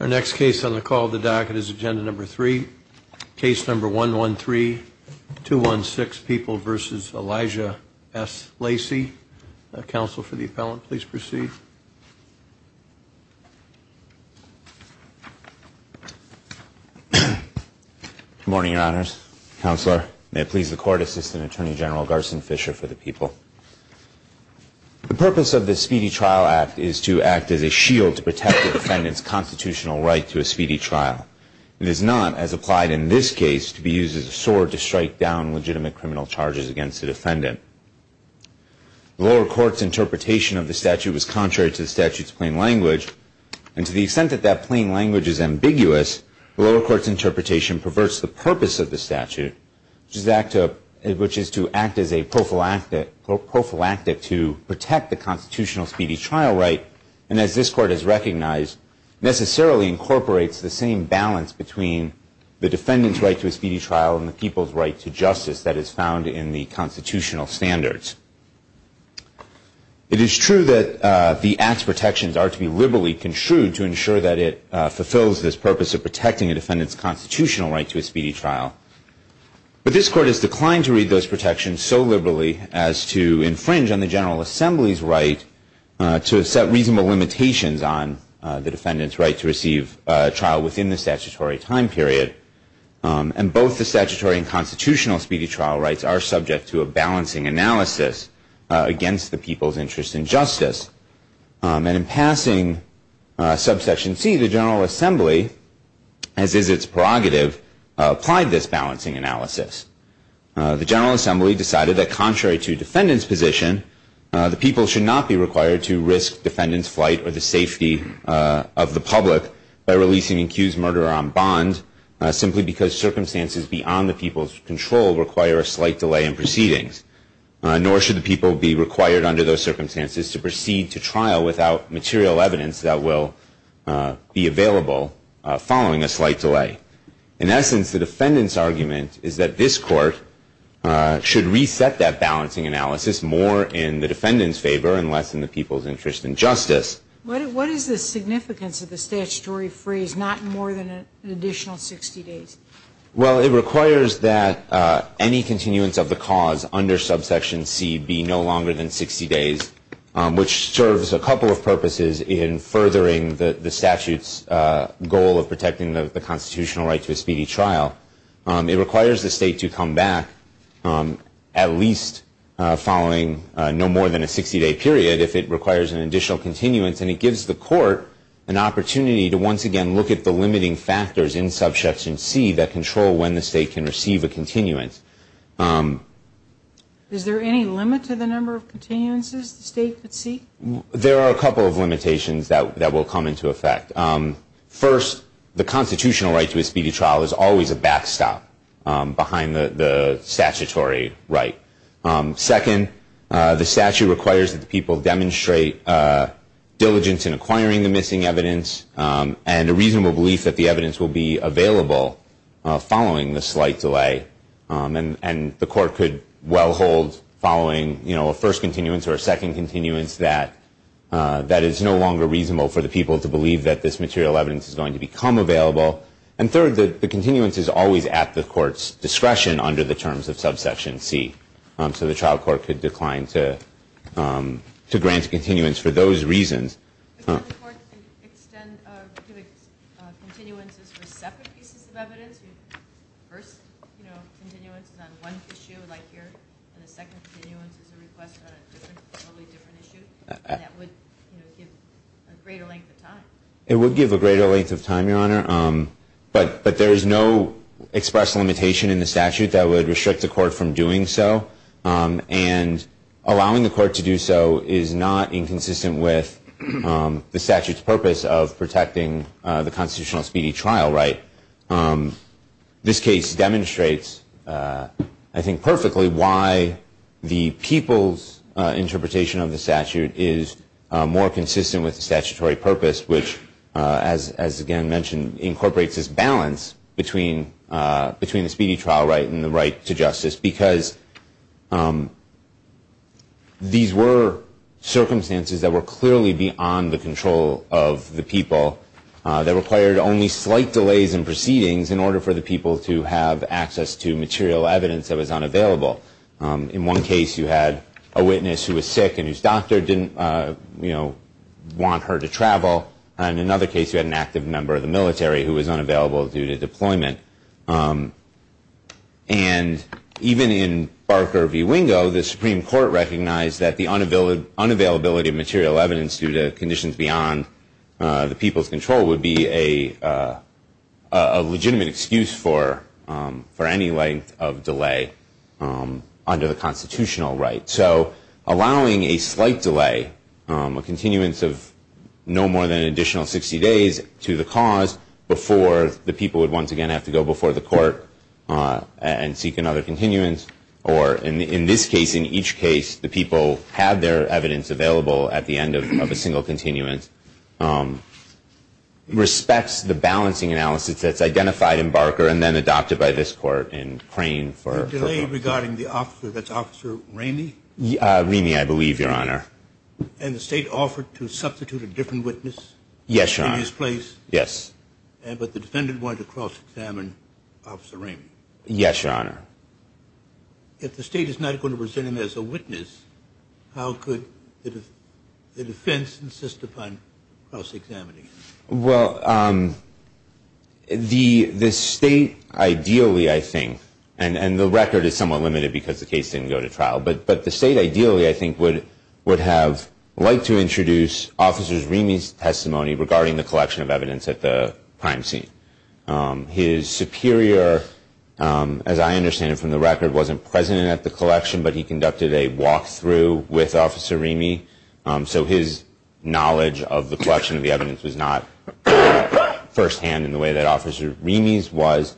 Our next case on the call of the docket is agenda number three, case number 113-216, People v. Elijah S. Lacy. Counsel for the appellant, please proceed. Good morning, Your Honors. Counselor, may it please the Court, Assistant Attorney General Garson Fisher for the People. The purpose of the Speedy Trial Act is to act as a shield to protect the defendant's constitutional right to a speedy trial. It is not, as applied in this case, to be used as a sword to strike down legitimate criminal charges against the defendant. The lower court's interpretation of the statute was contrary to the statute's plain language, and to the extent that that plain language is ambiguous, the lower court's interpretation perverts the purpose of the statute, which is to act as a prophylactic to protect the constitutional speedy trial right, and as this Court has recognized, necessarily incorporates the same balance between the defendant's right to a speedy trial and the people's right to justice that is found in the constitutional standards. It is true that the act's protections are to be liberally construed to ensure that it fulfills this purpose of protecting a defendant's constitutional right to a speedy trial, but this Court has declined to read those protections so liberally as to infringe on the General Assembly's right to set reasonable limitations on the defendant's right to receive trial within the statutory time period, and both the statutory and constitutional speedy trial rights are subject to a balancing analysis against the people's interest in justice. And in passing subsection C, the General Assembly, as is its prerogative, applied this balancing analysis. The General Assembly decided that contrary to defendant's position, the people should not be required to risk defendant's flight or the safety of the public by releasing an accused murderer on bond simply because circumstances beyond the people's control require a slight delay in proceedings, nor should the people be required under those circumstances to proceed to trial without material evidence that will be available following a slight delay. In essence, the defendant's argument is that this Court should reset that balancing analysis more in the defendant's favor and less in the people's interest in justice. What is the significance of the statutory phrase, not more than an additional 60 days? Well, it requires that any continuance of the cause under subsection C be no longer than 60 days, which serves a couple of purposes in furthering the statute's goal of protecting the constitutional right to a speedy trial. It requires the State to come back at least following no more than a 60-day period if it requires an additional continuance, and it gives the Court an opportunity to once again look at the limiting factors in subsection C that control when the State can receive a continuance. Is there any limit to the number of continuances the State could seek? There are a couple of limitations that will come into effect. First, the constitutional right to a speedy trial is always a backstop behind the statutory right. Second, the statute requires that the people demonstrate diligence in acquiring the missing evidence and a reasonable belief that the evidence will be available following the slight delay. And the Court could well hold following a first continuance or a second continuance that is no longer reasonable for the people to believe that this material evidence is going to become available. And third, the continuance is always at the Court's discretion under the terms of subsection C. So the trial court could decline to grant continuance for those reasons. Could the Court extend continuances for separate pieces of evidence? The first continuance is on one issue, like here, and the second continuance is a request on a totally different issue? That would give a greater length of time. It would give a greater length of time, Your Honor, but there is no express limitation in the statute that would restrict the Court from doing so, and allowing the Court to do so is not inconsistent with the statute's purpose of protecting the constitutional speedy trial right. This case demonstrates, I think perfectly, why the people's interpretation of the statute is more consistent with the statutory purpose, which, as again mentioned, incorporates this balance between the speedy trial right and the right to justice, because these were circumstances that were clearly beyond the control of the people that required only slight delays in proceedings in order for the people to have access to material evidence that was unavailable. In one case you had a witness who was sick and whose doctor didn't want her to travel, and in another case you had an active member of the military who was unavailable due to deployment. And even in Barker v. Wingo, the Supreme Court recognized that the unavailability of material evidence due to conditions beyond the people's control would be a legitimate excuse for any length of delay. So allowing a slight delay, a continuance of no more than an additional 60 days, to the cause before the people would once again have to go before the Court and seek another continuance, or in this case, in each case, the people have their evidence available at the end of a single continuance, respects the balancing analysis that's identified in Barker and then adopted by this Court in Crane for... The delay regarding the officer, that's Officer Ramey? Ramey, I believe, Your Honor. And the State offered to substitute a different witness in his place? Yes, Your Honor. But the defendant wanted to cross-examine Officer Ramey? Yes, Your Honor. If the State is not going to present him as a witness, how could the defense insist upon cross-examining him? Well, the State ideally, I think, and the record is somewhat limited because the case didn't go to trial, but the State ideally, I think, would have liked to introduce Officer Ramey's testimony regarding the collection of evidence at the crime scene. His superior, as I understand it from the record, wasn't present at the collection, but he conducted a walk-through with Officer Ramey, so his knowledge of the collection of the evidence was not firsthand in the way that Officer Ramey's was.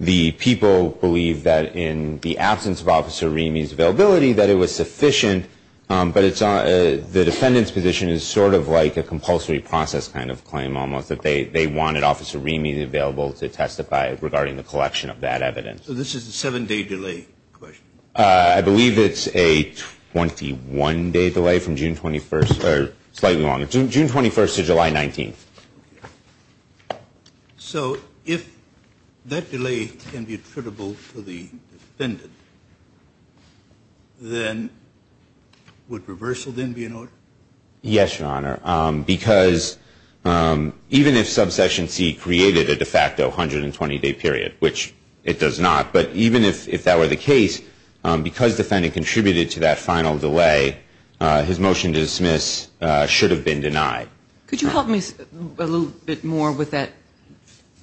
The people believe that in the absence of Officer Ramey's availability that it was sufficient, but the defendant's position is sort of like a compulsory process kind of claim almost, that they wanted Officer Ramey available to testify regarding the collection of that evidence. So this is a seven-day delay? I believe it's a 21-day delay from June 21st, or slightly longer, June 21st to July 19th. So if that delay can be attributable to the defendant, then would reversal then be in order? Yes, Your Honor, because even if Subsection C created a de facto 120-day period, which it does not, but even if that were the case, because the defendant contributed to that final delay, his motion to dismiss should have been denied. Could you help me a little bit more with that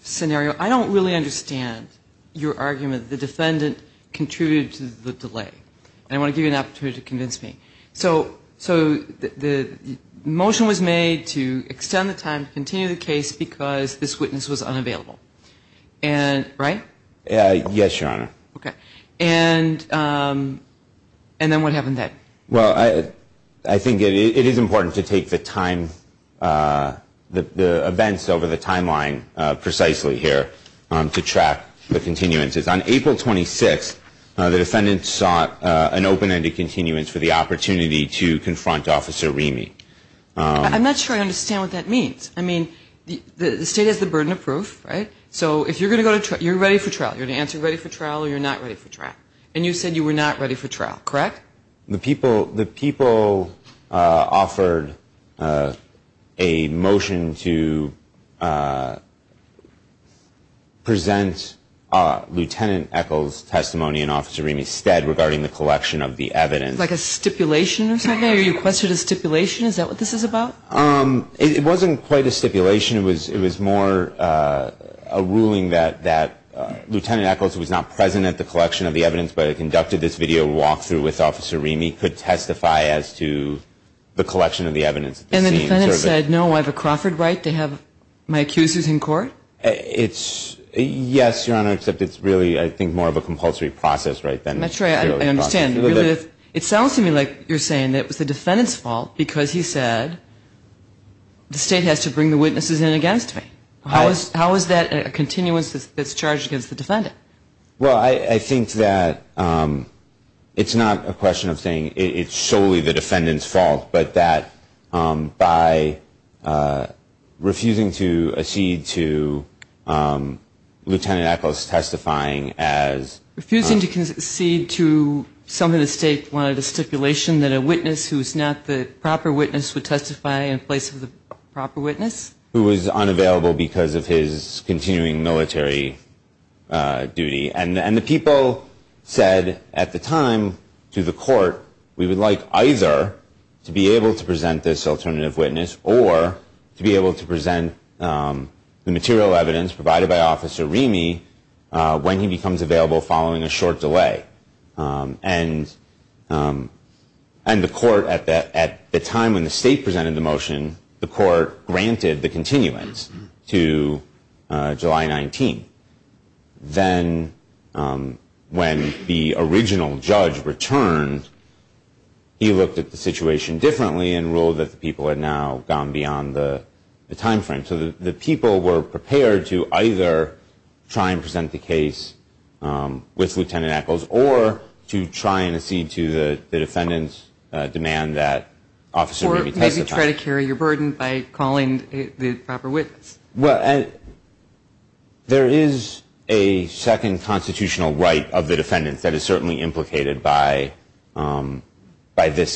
scenario? I don't really understand your argument that the defendant contributed to the delay, and I want to give you an opportunity to convince me. So the motion was made to extend the time to continue the case because this witness was unavailable, right? Yes, Your Honor. Okay. And then what happened then? Well, I think it is important to take the events over the timeline precisely here to track the continuances. On April 26th, the defendant sought an open-ended continuance for the opportunity to confront Officer Ramey. I'm not sure I understand what that means. I mean, the State has the burden of proof, right? So if you're going to go to trial, you're ready for trial. You're going to answer ready for trial or you're not ready for trial. And you said you were not ready for trial, correct? The people offered a motion to present Lieutenant Echols' testimony and Officer Ramey's stead regarding the collection of the evidence. Like a stipulation or something? Are you requesting a stipulation? Is that what this is about? It wasn't quite a stipulation. It was more a ruling that Lieutenant Echols, who was not present at the collection of the evidence, but had conducted this video walk-through with Officer Ramey, could testify as to the collection of the evidence. And the defendant said, no, I have a Crawford right to have my accusers in court? Yes, Your Honor, except it's really, I think, more of a compulsory process right then. That's right. I understand. It sounds to me like you're saying it was the defendant's fault because he said, the State has to bring the witnesses in against me. How is that a continuance that's charged against the defendant? Well, I think that it's not a question of saying it's solely the defendant's fault, but that by refusing to accede to Lieutenant Echols testifying as... Some of the State wanted a stipulation that a witness who is not the proper witness would testify in place of the proper witness? Who was unavailable because of his continuing military duty. And the people said at the time to the court, we would like either to be able to present this alternative witness or to be able to present the material evidence provided by Officer Ramey when he becomes available following a short delay. And the court at the time when the State presented the motion, the court granted the continuance to July 19. Then when the original judge returned, he looked at the situation differently and ruled that the people had now gone beyond the time frame. So the people were prepared to either try and present the case with Lieutenant Echols or to try and accede to the defendant's demand that Officer Ramey testify. Or maybe try to carry your burden by calling the proper witness. Well, there is a second constitutional right of the defendant that is certainly implicated by this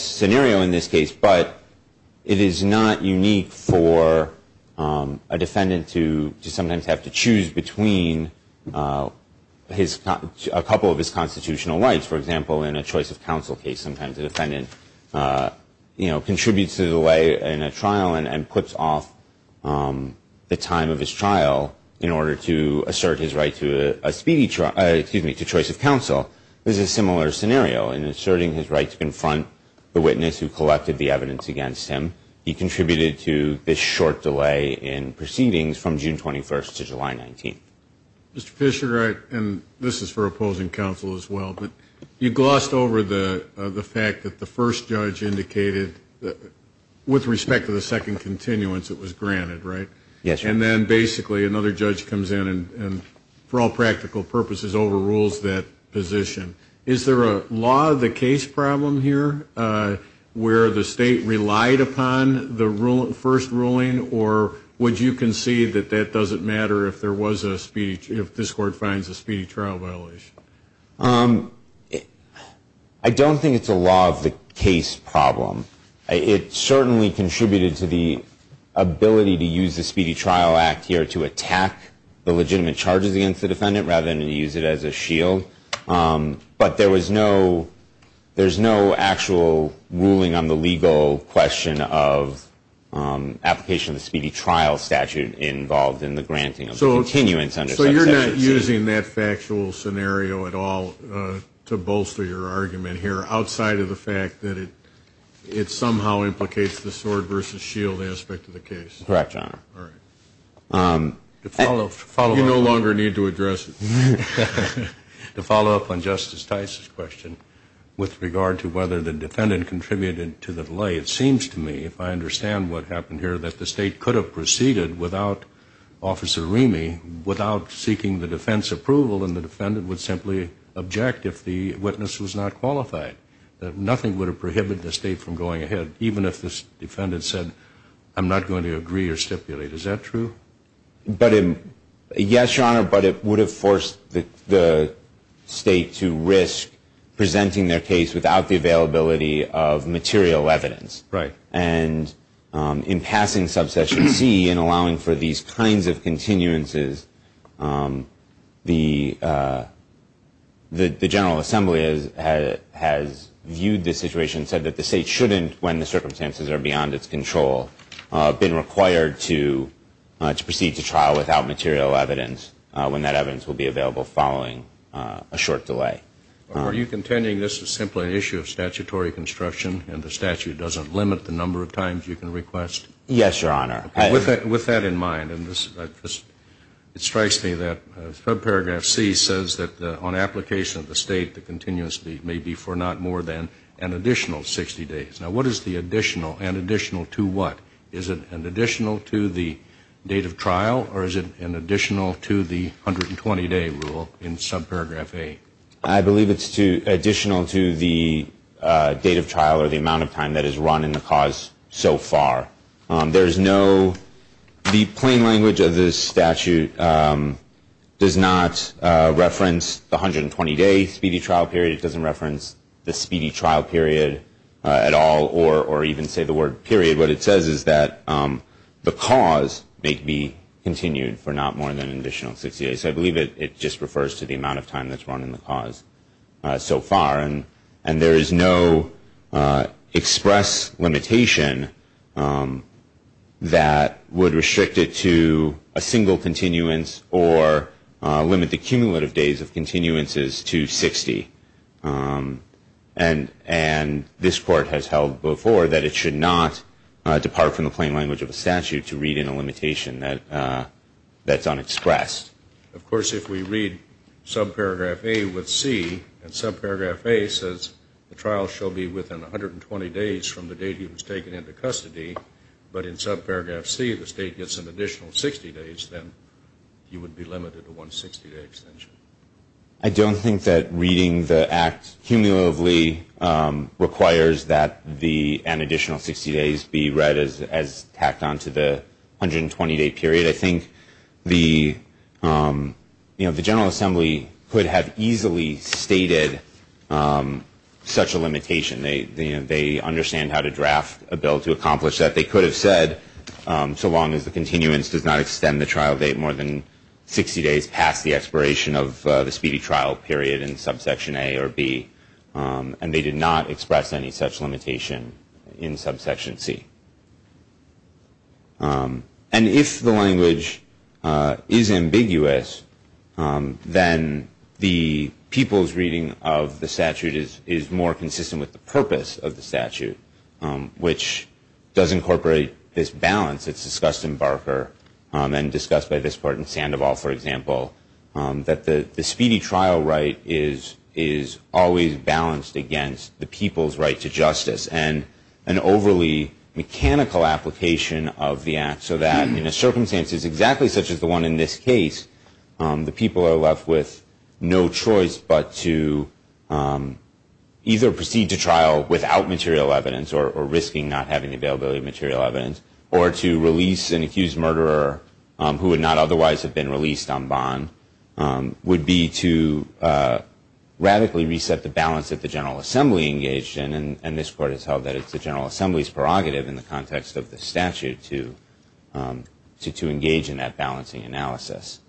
scenario in this case, but it is not unique for a defendant to sometimes have to choose between a couple of his constitutional rights. For example, in a choice of counsel case, sometimes a defendant contributes to the delay in a trial and puts off the time of his trial in order to assert his right to choice of counsel. This is a similar scenario in asserting his right to confront the witness who collected the evidence against him. He contributed to this short delay in proceedings from June 21st to July 19th. Mr. Fischer, and this is for opposing counsel as well, but you glossed over the fact that the first judge indicated with respect to the second continuance it was granted, right? Yes, sir. And then basically another judge comes in and for all practical purposes overrules that position. Is there a law of the case problem here where the state relied upon the first ruling or would you concede that that doesn't matter if this Court finds a speedy trial violation? I don't think it's a law of the case problem. It certainly contributed to the ability to use the Speedy Trial Act here to attack the legitimate charges against the defendant rather than to use it as a shield. But there was no actual ruling on the legal question of application of the Speedy Trial statute involved in the granting of continuance. So you're not using that factual scenario at all to bolster your argument here outside of the fact that it somehow implicates the sword versus shield aspect of the case? Correct, Your Honor. All right. You no longer need to address it. To follow up on Justice Tice's question with regard to whether the defendant contributed to the delay, it seems to me, if I understand what happened here, that the state could have proceeded without Officer Remy, without seeking the defense approval, and the defendant would simply object if the witness was not qualified, that nothing would have prohibited the state from going ahead, even if the defendant said, I'm not going to agree or stipulate. Is that true? Yes, Your Honor, but it would have forced the state to risk presenting their case without the availability of material evidence. Right. And in passing Subsection C and allowing for these kinds of continuances, the General Assembly has viewed this situation and said that the state shouldn't, when the circumstances are beyond its control, have been required to proceed to trial without material evidence when that evidence will be available following a short delay. Are you contending this is simply an issue of statutory construction and the statute doesn't limit the number of times you can request? Yes, Your Honor. With that in mind, and it strikes me that Subparagraph C says that on application of the state, the continuous date may be for not more than an additional 60 days. Now, what is the additional? An additional to what? Is it an additional to the date of trial or is it an additional to the 120-day rule in Subparagraph A? I believe it's additional to the date of trial or the amount of time that is run in the cause so far. There is no, the plain language of this statute does not reference the 120-day speedy trial period. It doesn't reference the speedy trial period at all or even say the word period. What it says is that the cause may be continued for not more than an additional 60 days. I believe it just refers to the amount of time that's run in the cause so far. And there is no express limitation that would restrict it to a single continuance or limit the cumulative days of continuances to 60. And this Court has held before that it should not depart from the plain language of a statute to read in a limitation that's unexpressed. Of course, if we read Subparagraph A with C and Subparagraph A says the trial shall be within 120 days from the date he was taken into custody, but in Subparagraph C the state gets an additional 60 days, then he would be limited to one 60-day extension. I don't think that reading the Act cumulatively requires that an additional 60 days be read as tacked onto the 120-day period. I think the General Assembly could have easily stated such a limitation. They understand how to draft a bill to accomplish that. They could have said so long as the continuance does not extend the trial date more than 60 days past the expiration of the speedy trial period in Subsection A or B. And they did not express any such limitation in Subsection C. And if the language is ambiguous, then the people's reading of the statute is more consistent with the purpose of the statute, which does incorporate this balance that's discussed in Barker and discussed by this part in Sandoval, for example, that the speedy trial right is always balanced against the people's right to justice and an overly mechanical application of the Act so that in a circumstance exactly such as the one in this case, the people are left with no choice but to either proceed to trial without material evidence or risking not having availability of material evidence or to release an accused murderer who would not otherwise have been released on bond would be to radically reset the balance that the General Assembly engaged in. And this Court has held that it's the General Assembly's prerogative in the context of the statute to engage in that balancing analysis.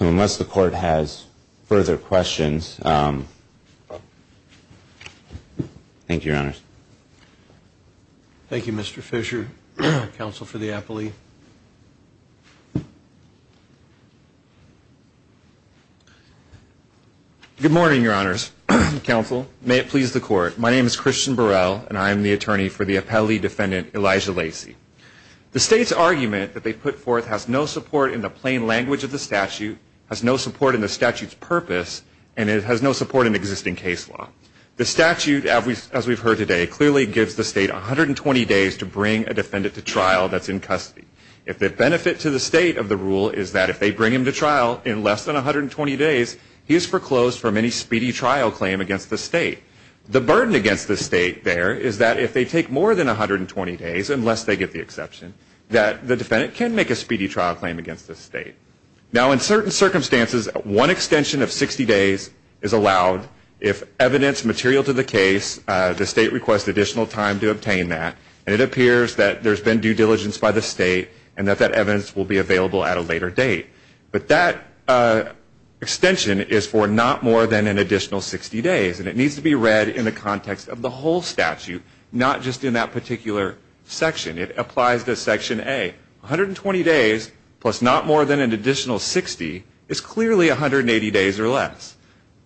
Unless the Court has further questions. Thank you, Your Honors. Thank you, Mr. Fisher. Counsel for the appellee. Good morning, Your Honors. Counsel, may it please the Court. My name is Christian Burrell, and I am the attorney for the appellee defendant Elijah Lacey. The State's argument that they put forth has no support in the plain language of the statute, has no support in the statute's purpose, and it has no support in existing case law. The statute, as we've heard today, clearly gives the State 120 days to bring a defendant to trial that's in custody. If the benefit to the State of the rule is that if they bring him to trial in less than 120 days, he is foreclosed from any speedy trial claim against the State. The burden against the State there is that if they take more than 120 days, unless they get the exception, that the defendant can make a speedy trial claim against the State. Now, in certain circumstances, one extension of 60 days is allowed if evidence material to the case, the State requests additional time to obtain that, and it appears that there's been due diligence by the State and that that evidence will be available at a later date. But that extension is for not more than an additional 60 days, and it needs to be read in the context of the whole statute, not just in that particular section. It applies to Section A. 120 days plus not more than an additional 60 is clearly 180 days or less.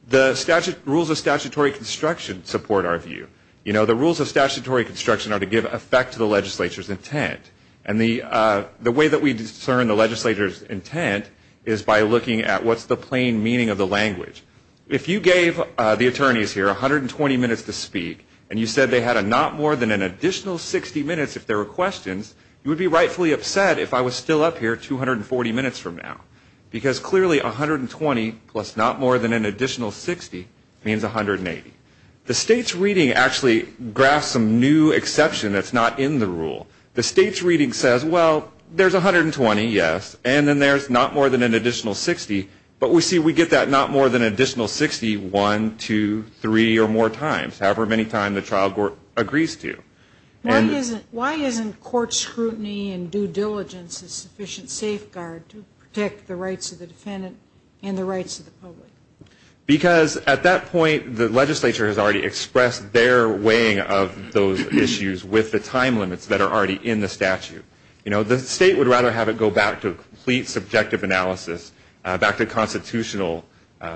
The rules of statutory construction support our view. You know, the rules of statutory construction are to give effect to the legislature's intent, and the way that we discern the legislature's intent is by looking at what's the plain meaning of the language. If you gave the attorneys here 120 minutes to speak, and you said they had a not more than an additional 60 minutes if there were questions, you would be rightfully upset if I was still up here 240 minutes from now, because clearly 120 plus not more than an additional 60 means 180. The State's reading actually graphs some new exception that's not in the rule. The State's reading says, well, there's 120, yes, and then there's not more than an additional 60, but we see we get that not more than an additional 60 one, two, three or more times, however many times the trial court agrees to. Why isn't court scrutiny and due diligence a sufficient safeguard to protect the rights of the defendant and the rights of the public? Because at that point, the legislature has already expressed their weighing of those issues with the time limits that are already in the statute. The State would rather have it go back to a complete subjective analysis, back to constitutional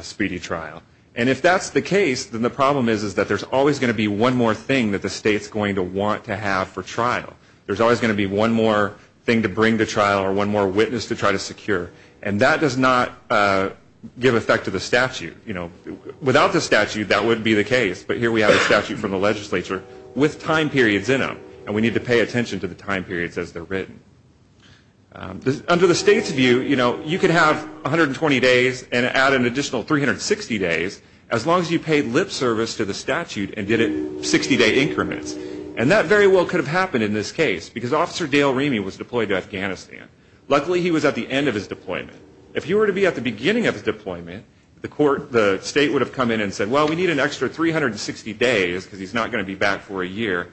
speedy trial. And if that's the case, then the problem is that there's always going to be one more thing that the State's going to want to have for trial. There's always going to be one more thing to bring to trial or one more witness to try to secure, and that does not give effect to the statute. Without the statute, that wouldn't be the case, but here we have a statute from the legislature with time periods in them, and we need to pay attention to the time periods as they're written. Under the State's view, you know, you could have 120 days and add an additional 360 days as long as you paid lip service to the statute and did it 60-day increments, and that very well could have happened in this case because Officer Dale Remy was deployed to Afghanistan. Luckily, he was at the end of his deployment. If he were to be at the beginning of his deployment, the State would have come in and said, well, we need an extra 360 days because he's not going to be back for a year,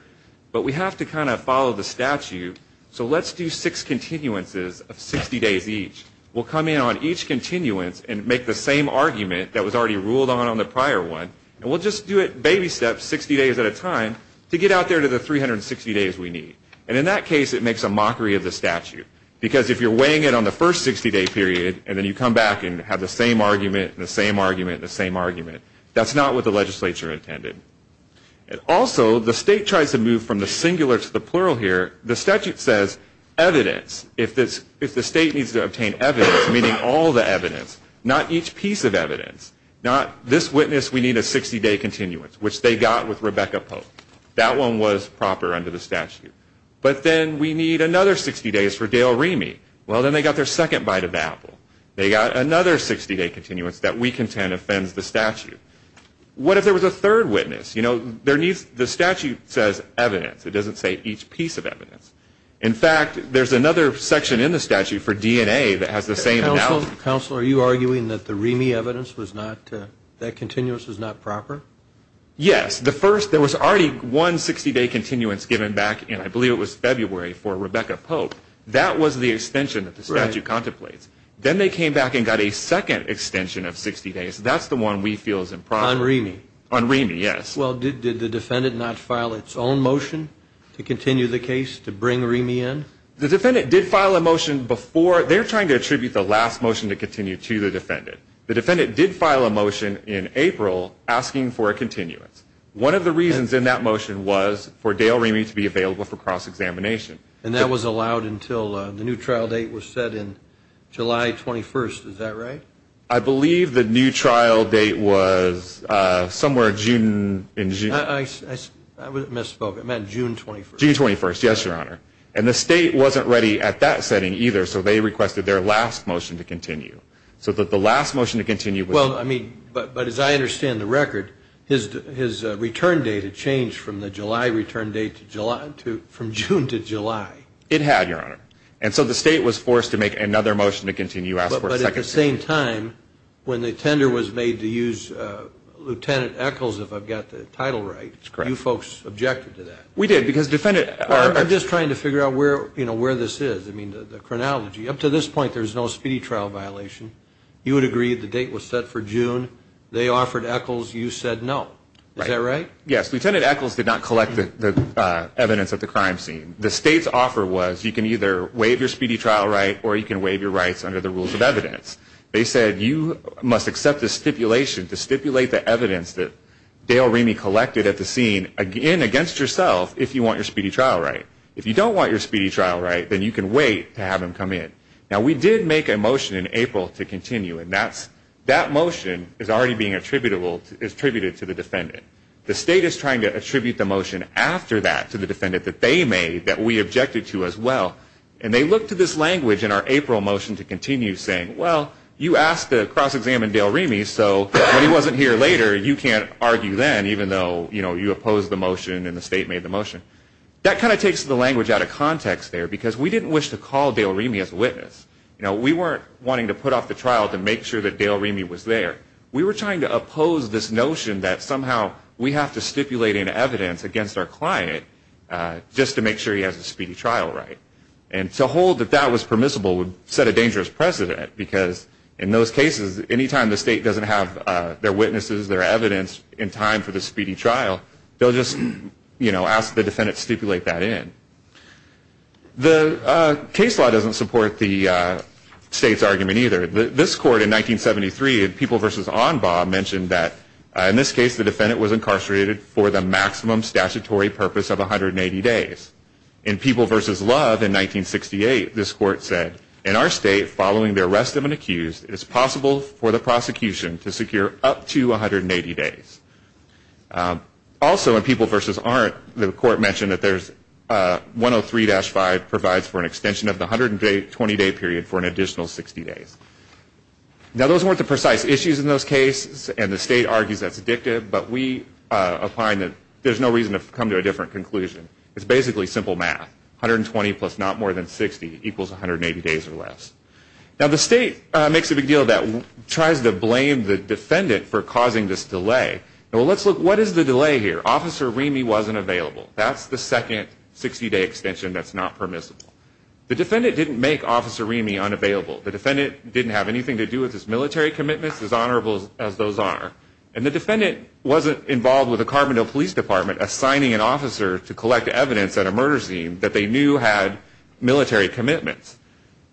but we have to kind of follow the statute, so let's do six continuances of 60 days each. We'll come in on each continuance and make the same argument that was already ruled on on the prior one, and we'll just do it baby steps 60 days at a time to get out there to the 360 days we need. And in that case, it makes a mockery of the statute because if you're weighing it on the first 60-day period and then you come back and have the same argument and the same argument and the same argument, that's not what the legislature intended. Also, the State tries to move from the singular to the plural here. The statute says evidence. If the State needs to obtain evidence, meaning all the evidence, not each piece of evidence, not this witness, we need a 60-day continuance, which they got with Rebecca Pope. That one was proper under the statute. But then we need another 60 days for Dale Remy. Well, then they got their second bite of the apple. They got another 60-day continuance that we contend offends the statute. What if there was a third witness? You know, the statute says evidence. It doesn't say each piece of evidence. In fact, there's another section in the statute for DNA that has the same analogy. Counsel, are you arguing that the Remy evidence was not, that continuance was not proper? Yes. The first, there was already one 60-day continuance given back, and I believe it was February, for Rebecca Pope. That was the extension that the statute contemplates. Then they came back and got a second extension of 60 days. That's the one we feel is improper. On Remy? On Remy, yes. Well, did the defendant not file its own motion to continue the case to bring Remy in? The defendant did file a motion before. They're trying to attribute the last motion to continue to the defendant. The defendant did file a motion in April asking for a continuance. One of the reasons in that motion was for Dale Remy to be available for cross-examination. And that was allowed until the new trial date was set in July 21st. Is that right? I believe the new trial date was somewhere June. I misspoke. It meant June 21st. June 21st. Yes, Your Honor. And the state wasn't ready at that setting either, so they requested their last motion to continue. So the last motion to continue. Well, I mean, but as I understand the record, his return date had changed from the July return date from June to July. It had, Your Honor. And so the state was forced to make another motion to continue, ask for a second hearing. But at the same time, when the tender was made to use Lieutenant Echols, if I've got the title right, you folks objected to that. We did, because defendant. I'm just trying to figure out where this is, I mean, the chronology. Up to this point, there's no speedy trial violation. You would agree the date was set for June. They offered Echols. You said no. Is that right? Yes. Lieutenant Echols did not collect the evidence at the crime scene. The state's offer was you can either waive your speedy trial right or you can waive your rights under the rules of evidence. They said you must accept the stipulation to stipulate the evidence that Dale Remy collected at the scene, again, against yourself, if you want your speedy trial right. If you don't want your speedy trial right, then you can wait to have him come in. Now, we did make a motion in April to continue, and that motion is already being attributed to the defendant. The state is trying to attribute the motion after that to the defendant that they made that we objected to as well, and they look to this language in our April motion to continue saying, well, you asked to cross-examine Dale Remy, so when he wasn't here later, you can't argue then, even though you opposed the motion and the state made the motion. That kind of takes the language out of context there, because we didn't wish to call Dale Remy as a witness. You know, we weren't wanting to put off the trial to make sure that Dale Remy was there. We were trying to oppose this notion that somehow we have to stipulate an evidence against our client just to make sure he has a speedy trial right. And to hold that that was permissible would set a dangerous precedent, because in those cases, any time the state doesn't have their witnesses, their evidence, in time for the speedy trial, they'll just, you know, ask the defendant to stipulate that in. The case law doesn't support the state's argument either. This court in 1973 in People v. Onbaugh mentioned that in this case, the defendant was incarcerated for the maximum statutory purpose of 180 days. In People v. Love in 1968, this court said, in our state, following the arrest of an accused, it is possible for the prosecution to secure up to 180 days. Also, in People v. Arendt, the court mentioned that 103-5 provides for an extension of the 120-day period for an additional 60 days. Now, those weren't the precise issues in those cases, and the state argues that's addictive, but we find that there's no reason to come to a different conclusion. It's basically simple math. 120 plus not more than 60 equals 180 days or less. Now, the state makes a big deal that tries to blame the defendant for causing this delay. Well, let's look, what is the delay here? Officer Remy wasn't available. That's the second 60-day extension that's not permissible. The defendant didn't make Officer Remy unavailable. The defendant didn't have anything to do with his military commitments, as honorable as those are, and the defendant wasn't involved with the Carbondale Police Department assigning an officer to collect evidence at a murder scene that they knew had military commitments.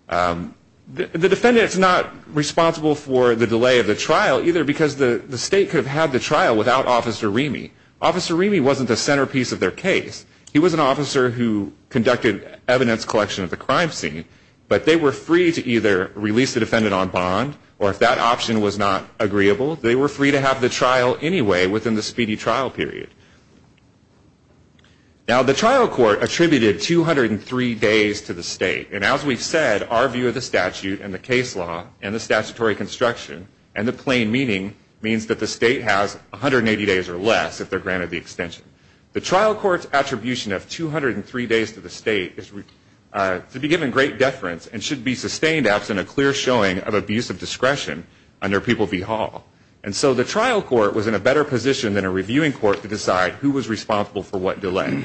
The defendant's not responsible for the delay of the trial either, because the state could have had the trial without Officer Remy. Officer Remy wasn't the centerpiece of their case. He was an officer who conducted evidence collection of the crime scene, but they were free to either release the defendant on bond, or if that option was not agreeable, they were free to have the trial anyway within the speedy trial period. Now, the trial court attributed 203 days to the state, and as we've said, our view of the statute and the case law and the statutory construction and the plain meaning means that the state has 180 days or less if they're granted the extension. The trial court's attribution of 203 days to the state is to be given great deference and should be sustained absent a clear showing of abuse of discretion under People v. Hall. And so the trial court was in a better position than a reviewing court to decide who was responsible for what delay.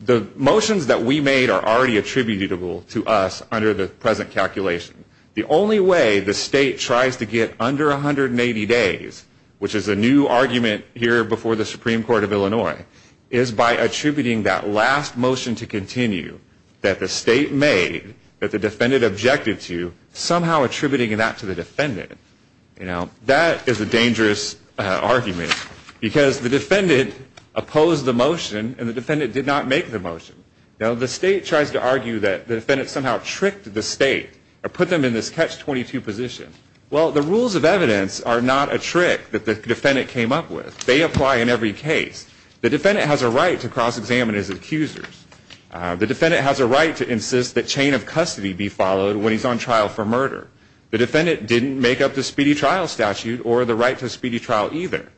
The motions that we made are already attributable to us under the present calculation. The only way the state tries to get under 180 days, which is a new argument here before the Supreme Court of Illinois, is by attributing that last motion to continue that the state made, that the defendant objected to, somehow attributing that to the defendant. Now, that is a dangerous argument because the defendant opposed the motion and the defendant did not make the motion. Now, the state tries to argue that the defendant somehow tricked the state or put them in this catch-22 position. Well, the rules of evidence are not a trick that the defendant came up with. They apply in every case. The defendant has a right to cross-examine his accusers. The defendant has a right to insist that chain of custody be followed when he's on trial for murder. The defendant didn't make up the speedy trial statute or the right to speedy trial either.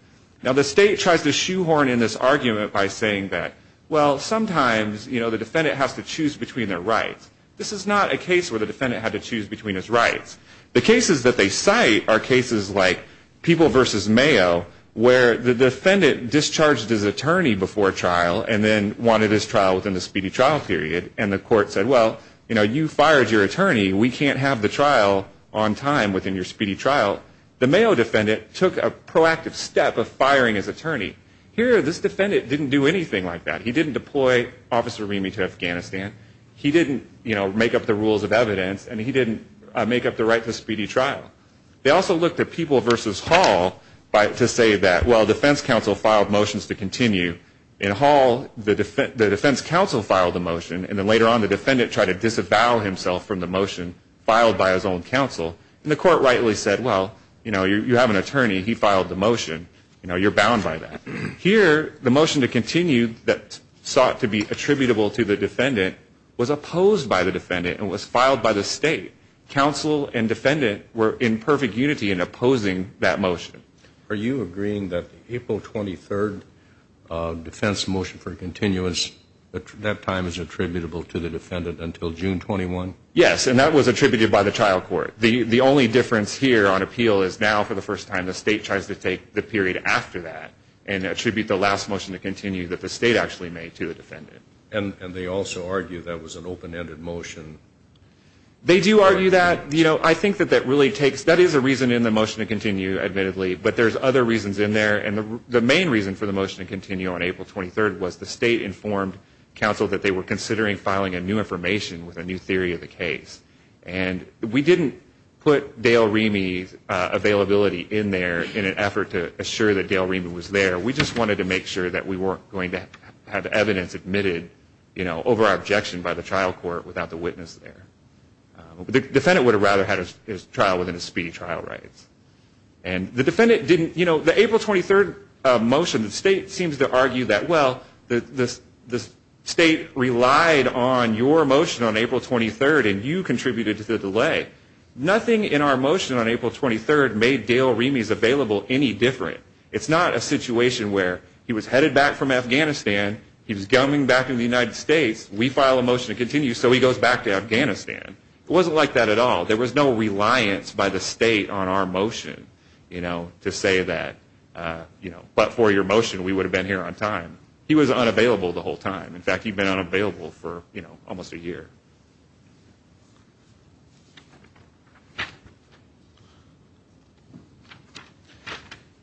Now, the state tries to shoehorn in this argument by saying that, well, sometimes the defendant has to choose between their rights. This is not a case where the defendant had to choose between his rights. The cases that they cite are cases like People v. Mayo where the defendant discharged his attorney before trial and then wanted his trial within the speedy trial period, and the court said, well, you know, you fired your attorney. We can't have the trial on time within your speedy trial. The Mayo defendant took a proactive step of firing his attorney. Here, this defendant didn't do anything like that. He didn't deploy Officer Remy to Afghanistan. He didn't, you know, make up the rules of evidence, and he didn't make up the right to speedy trial. They also looked at People v. Hall to say that, well, defense counsel filed motions to continue. In Hall, the defense counsel filed the motion, and then later on the defendant tried to disavow himself from the motion filed by his own counsel, and the court rightly said, well, you know, you have an attorney. He filed the motion. You know, you're bound by that. was opposed by the defendant and was filed by the state. Counsel and defendant were in perfect unity in opposing that motion. Are you agreeing that the April 23rd defense motion for continuance, that time is attributable to the defendant until June 21? Yes, and that was attributed by the trial court. The only difference here on appeal is now, for the first time, the state tries to take the period after that And they also argue that was an open-ended motion. They do argue that. You know, I think that that really takes – that is a reason in the motion to continue, admittedly, but there's other reasons in there, and the main reason for the motion to continue on April 23rd was the state informed counsel that they were considering filing a new information with a new theory of the case, and we didn't put Dale Remy's availability in there in an effort to assure that Dale Remy was there. We just wanted to make sure that we weren't going to have evidence admitted, you know, over our objection by the trial court without the witness there. The defendant would have rather had his trial within his speedy trial rights. And the defendant didn't – you know, the April 23rd motion, the state seems to argue that, well, the state relied on your motion on April 23rd and you contributed to the delay. Nothing in our motion on April 23rd made Dale Remy's available any different. It's not a situation where he was headed back from Afghanistan, he was coming back in the United States, we file a motion to continue, so he goes back to Afghanistan. It wasn't like that at all. There was no reliance by the state on our motion, you know, to say that, you know, but for your motion we would have been here on time. He was unavailable the whole time. In fact, he'd been unavailable for, you know, almost a year.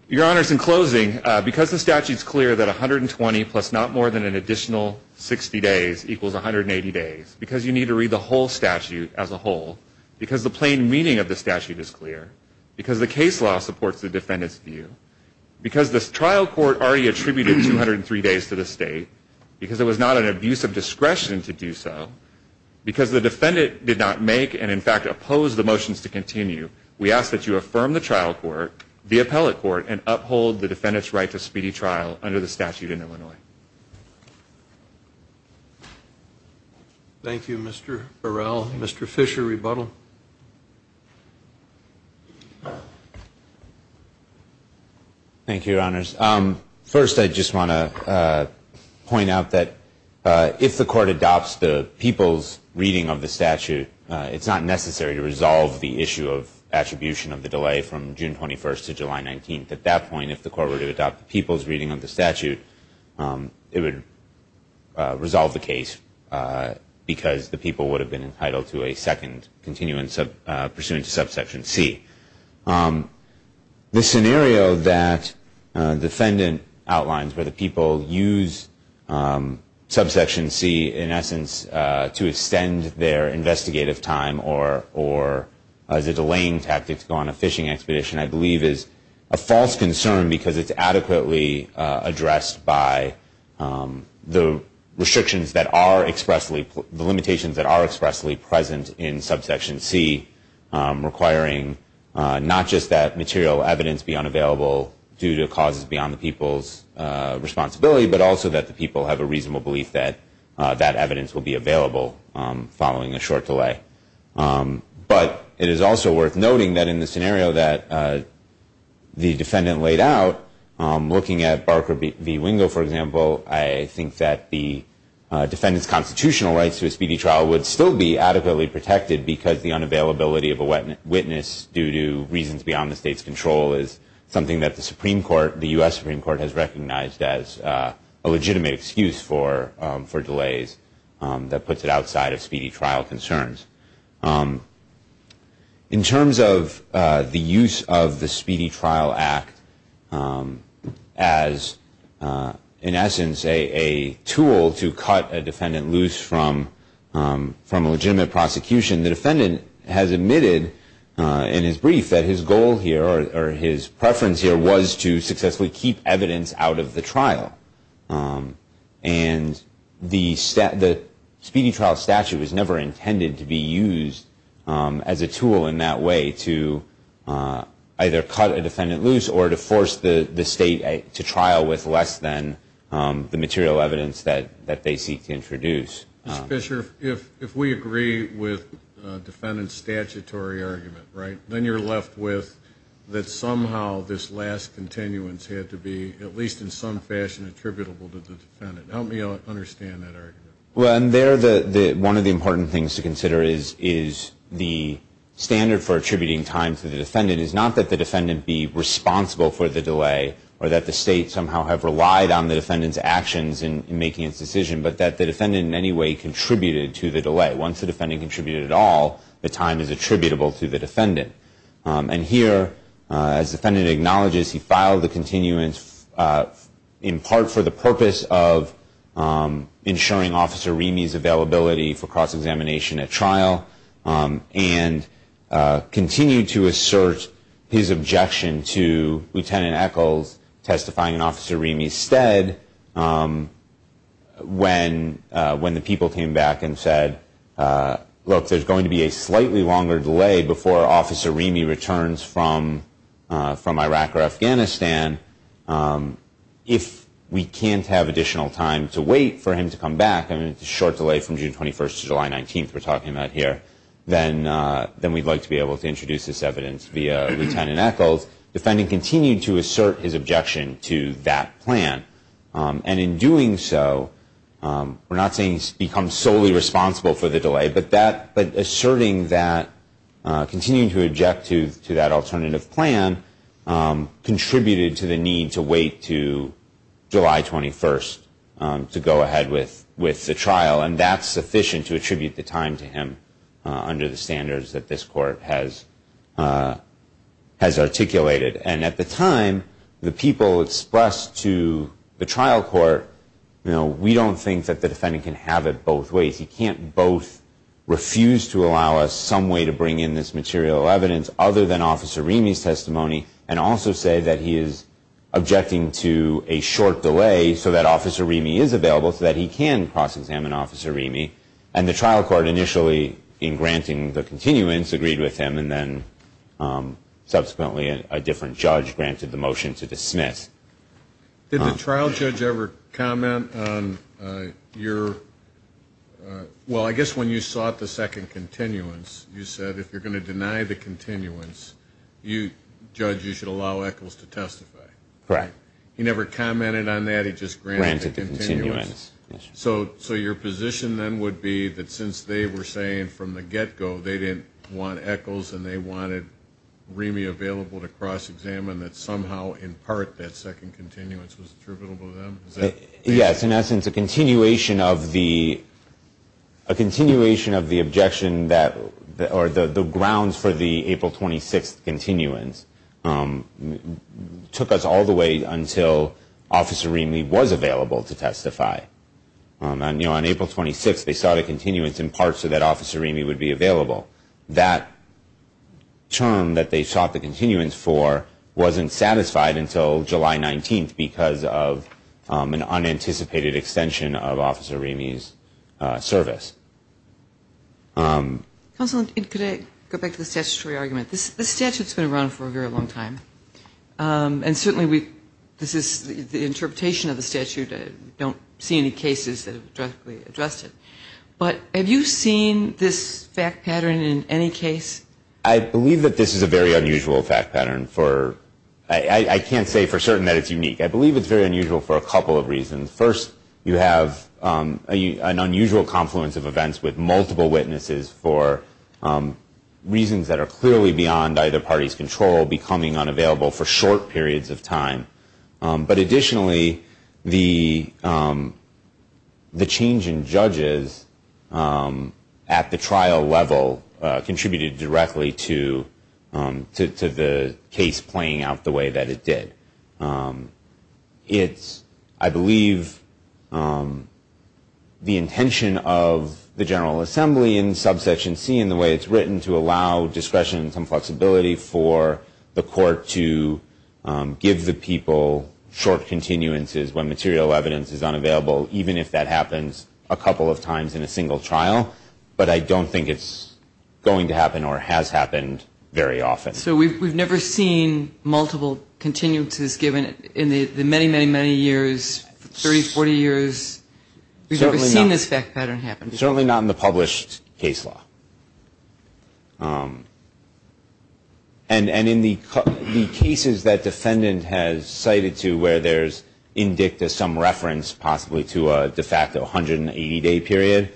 Your Honors, in closing, because the statute's clear that 120 plus not more than an additional 60 days equals 180 days, because you need to read the whole statute as a whole, because the plain meaning of the statute is clear, because the case law supports the defendant's view, because the trial court already attributed 203 days to the state, because it was not an abuse of discretion to do so, because the defendant did not make and, in fact, oppose the motions to continue, we ask that you affirm the trial court, the appellate court, and uphold the defendant's right to speedy trial under the statute in Illinois. Thank you, Mr. Burrell. Mr. Fisher, rebuttal. Thank you, Your Honors. First, I just want to point out that if the court adopts the people's reading of the statute, it's not necessary to resolve the issue of attribution of the delay from June 21st to July 19th. At that point, if the court were to adopt the people's reading of the statute, it would resolve the case because the people would have been entitled to a second pursuant to subsection C. The scenario that the defendant outlines where the people use subsection C, in essence, to extend their investigative time or as a delaying tactic to go on a fishing expedition, I believe, is a false concern because it's adequately addressed by the restrictions that are expressly, the limitations that are expressly present in subsection C requiring not just that material evidence be unavailable due to causes beyond the people's responsibility, but also that the people have a reasonable belief that that evidence will be available following a short delay. But it is also worth noting that in the scenario that the defendant laid out, looking at Barker v. Wingo, for example, I think that the defendant's constitutional rights to a speedy trial would still be adequately protected because the unavailability of a witness due to reasons beyond the state's control is something that the Supreme Court, the U.S. Supreme Court, has recognized as a legitimate excuse for delays that puts it outside of speedy trial concerns. In terms of the use of the Speedy Trial Act as, in essence, a tool to cut a defendant loose from a legitimate prosecution, the defendant has admitted in his brief that his goal here, or his preference here, was to successfully keep evidence out of the trial. And the speedy trial statute was never intended to be used as a tool in that way to either cut a defendant loose or to force the state to trial with less than the material evidence that they seek to introduce. Mr. Fisher, if we agree with the defendant's statutory argument, right, then you're left with that somehow this last continuance had to be, at least in some fashion, attributable to the defendant. Help me understand that argument. Well, and there, one of the important things to consider is the standard for attributing time to the defendant is not that the defendant be responsible for the delay or that the state somehow have relied on the defendant's actions in making its decision, but that the defendant in any way contributed to the delay. Once the defendant contributed at all, the time is attributable to the defendant. And here, as the defendant acknowledges, he filed the continuance in part for the purpose of ensuring Officer Remy's availability for cross-examination at trial and continued to assert his objection to Lieutenant Echols testifying in Officer Remy's stead when the people came back and said, look, there's going to be a slightly longer delay before Officer Remy returns from Iraq or Afghanistan. If we can't have additional time to wait for him to come back, and it's a short delay from June 21st to July 19th we're talking about here, then we'd like to be able to introduce this evidence via Lieutenant Echols. Defending continued to assert his objection to that plan. And in doing so, we're not saying he's become solely responsible for the delay, but asserting that, continuing to object to that alternative plan contributed to the need to wait to July 21st to go ahead with the trial, and that's sufficient to attribute the time to him under the standards that this court has articulated. And at the time, the people expressed to the trial court, we don't think that the defendant can have it both ways. He can't both refuse to allow us some way to bring in this material evidence other than Officer Remy's testimony and also say that he is objecting to a short delay so that Officer Remy is available so that he can cross-examine Officer Remy. And the trial court initially, in granting the continuance, agreed with him, and then subsequently a different judge granted the motion to dismiss. Did the trial judge ever comment on your, well, I guess when you sought the second continuance, you said if you're going to deny the continuance, judge, you should allow Echols to testify. Correct. He never commented on that, he just granted the continuance. Granted the continuance. So your position then would be that since they were saying from the get-go they didn't want Echols and they wanted Remy available to cross-examine, that somehow in part that second continuance was attributable to them? Yes. In essence, a continuation of the objection or the grounds for the April 26th continuance took us all the way until Officer Remy was available to testify. On April 26th they sought a continuance in part so that Officer Remy would be available. That term that they sought the continuance for wasn't satisfied until July 19th because of an unanticipated extension of Officer Remy's service. Counsel, could I go back to the statutory argument? This statute's been around for a very long time. And certainly this is the interpretation of the statute. I don't see any cases that have directly addressed it. But have you seen this fact pattern in any case? I believe that this is a very unusual fact pattern. I can't say for certain that it's unique. I believe it's very unusual for a couple of reasons. First, you have an unusual confluence of events with multiple witnesses for reasons that are clearly beyond either party's control becoming unavailable for short periods of time. But additionally, the change in judges at the trial level contributed directly to the case playing out the way that it did. It's, I believe, the intention of the General Assembly in Subsection C in the way it's written to allow discretion and some flexibility for the court to give the people short continuances when material evidence is unavailable, even if that happens a couple of times in a single trial. But I don't think it's going to happen or has happened very often. So we've never seen multiple continuances given in the many, many, many years, 30, 40 years? We've never seen this fact pattern happen. Certainly not in the published case law. And in the cases that defendant has cited to where there's in dicta some reference possibly to a de facto 180-day period,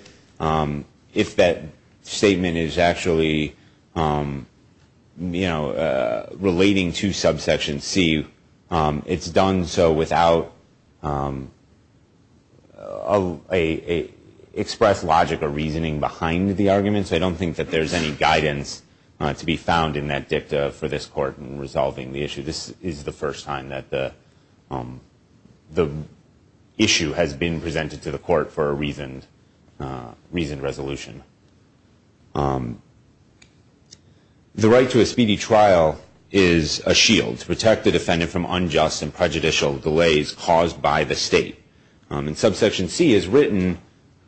if that statement is actually, you know, relating to Subsection C, it's done so without express logic or reasoning behind the arguments. I don't think that there's any guidance to be found in that dicta for this court in resolving the issue. This is the first time that the issue has been presented to the court for a reasoned resolution. The right to a speedy trial is a shield to protect the defendant from unjust and prejudicial delays caused by the state. And Subsection C, as written,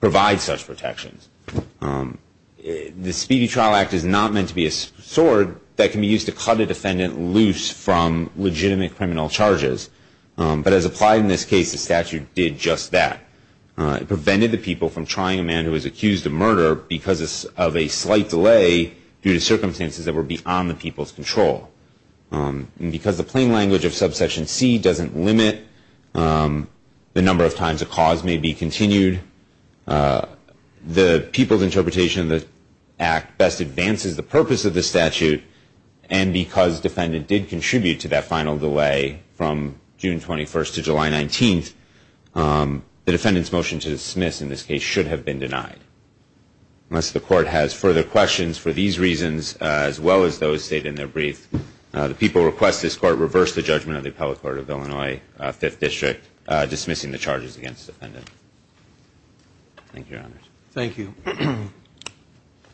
provides such protections. The Speedy Trial Act is not meant to be a sword that can be used to cut a defendant loose from legitimate criminal charges. But as applied in this case, the statute did just that. It prevented the people from trying a man who was accused of murder because of a slight delay due to circumstances that were beyond the people's control. And because the plain language of Subsection C doesn't limit the number of times a cause may be continued, the people's interpretation of the act best advances the purpose of the statute. And because defendant did contribute to that final delay from June 21st to July 19th, the defendant's motion to dismiss in this case should have been denied. Unless the court has further questions for these reasons, as well as those stated in their brief, the people request this court reverse the judgment of the Appellate Court of Illinois, Fifth District, dismissing the charges against the defendant. Thank you, Your Honors. Thank you.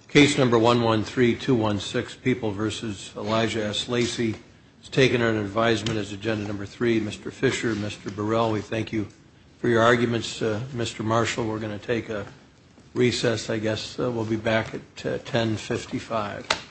Case number 113216, People v. Elijah S. Lacey, is taken under advisement as Agenda Number 3. Mr. Fisher, Mr. Burrell, we thank you for your arguments. Mr. Marshall, we're going to take a recess, I guess. We'll be back at 1055.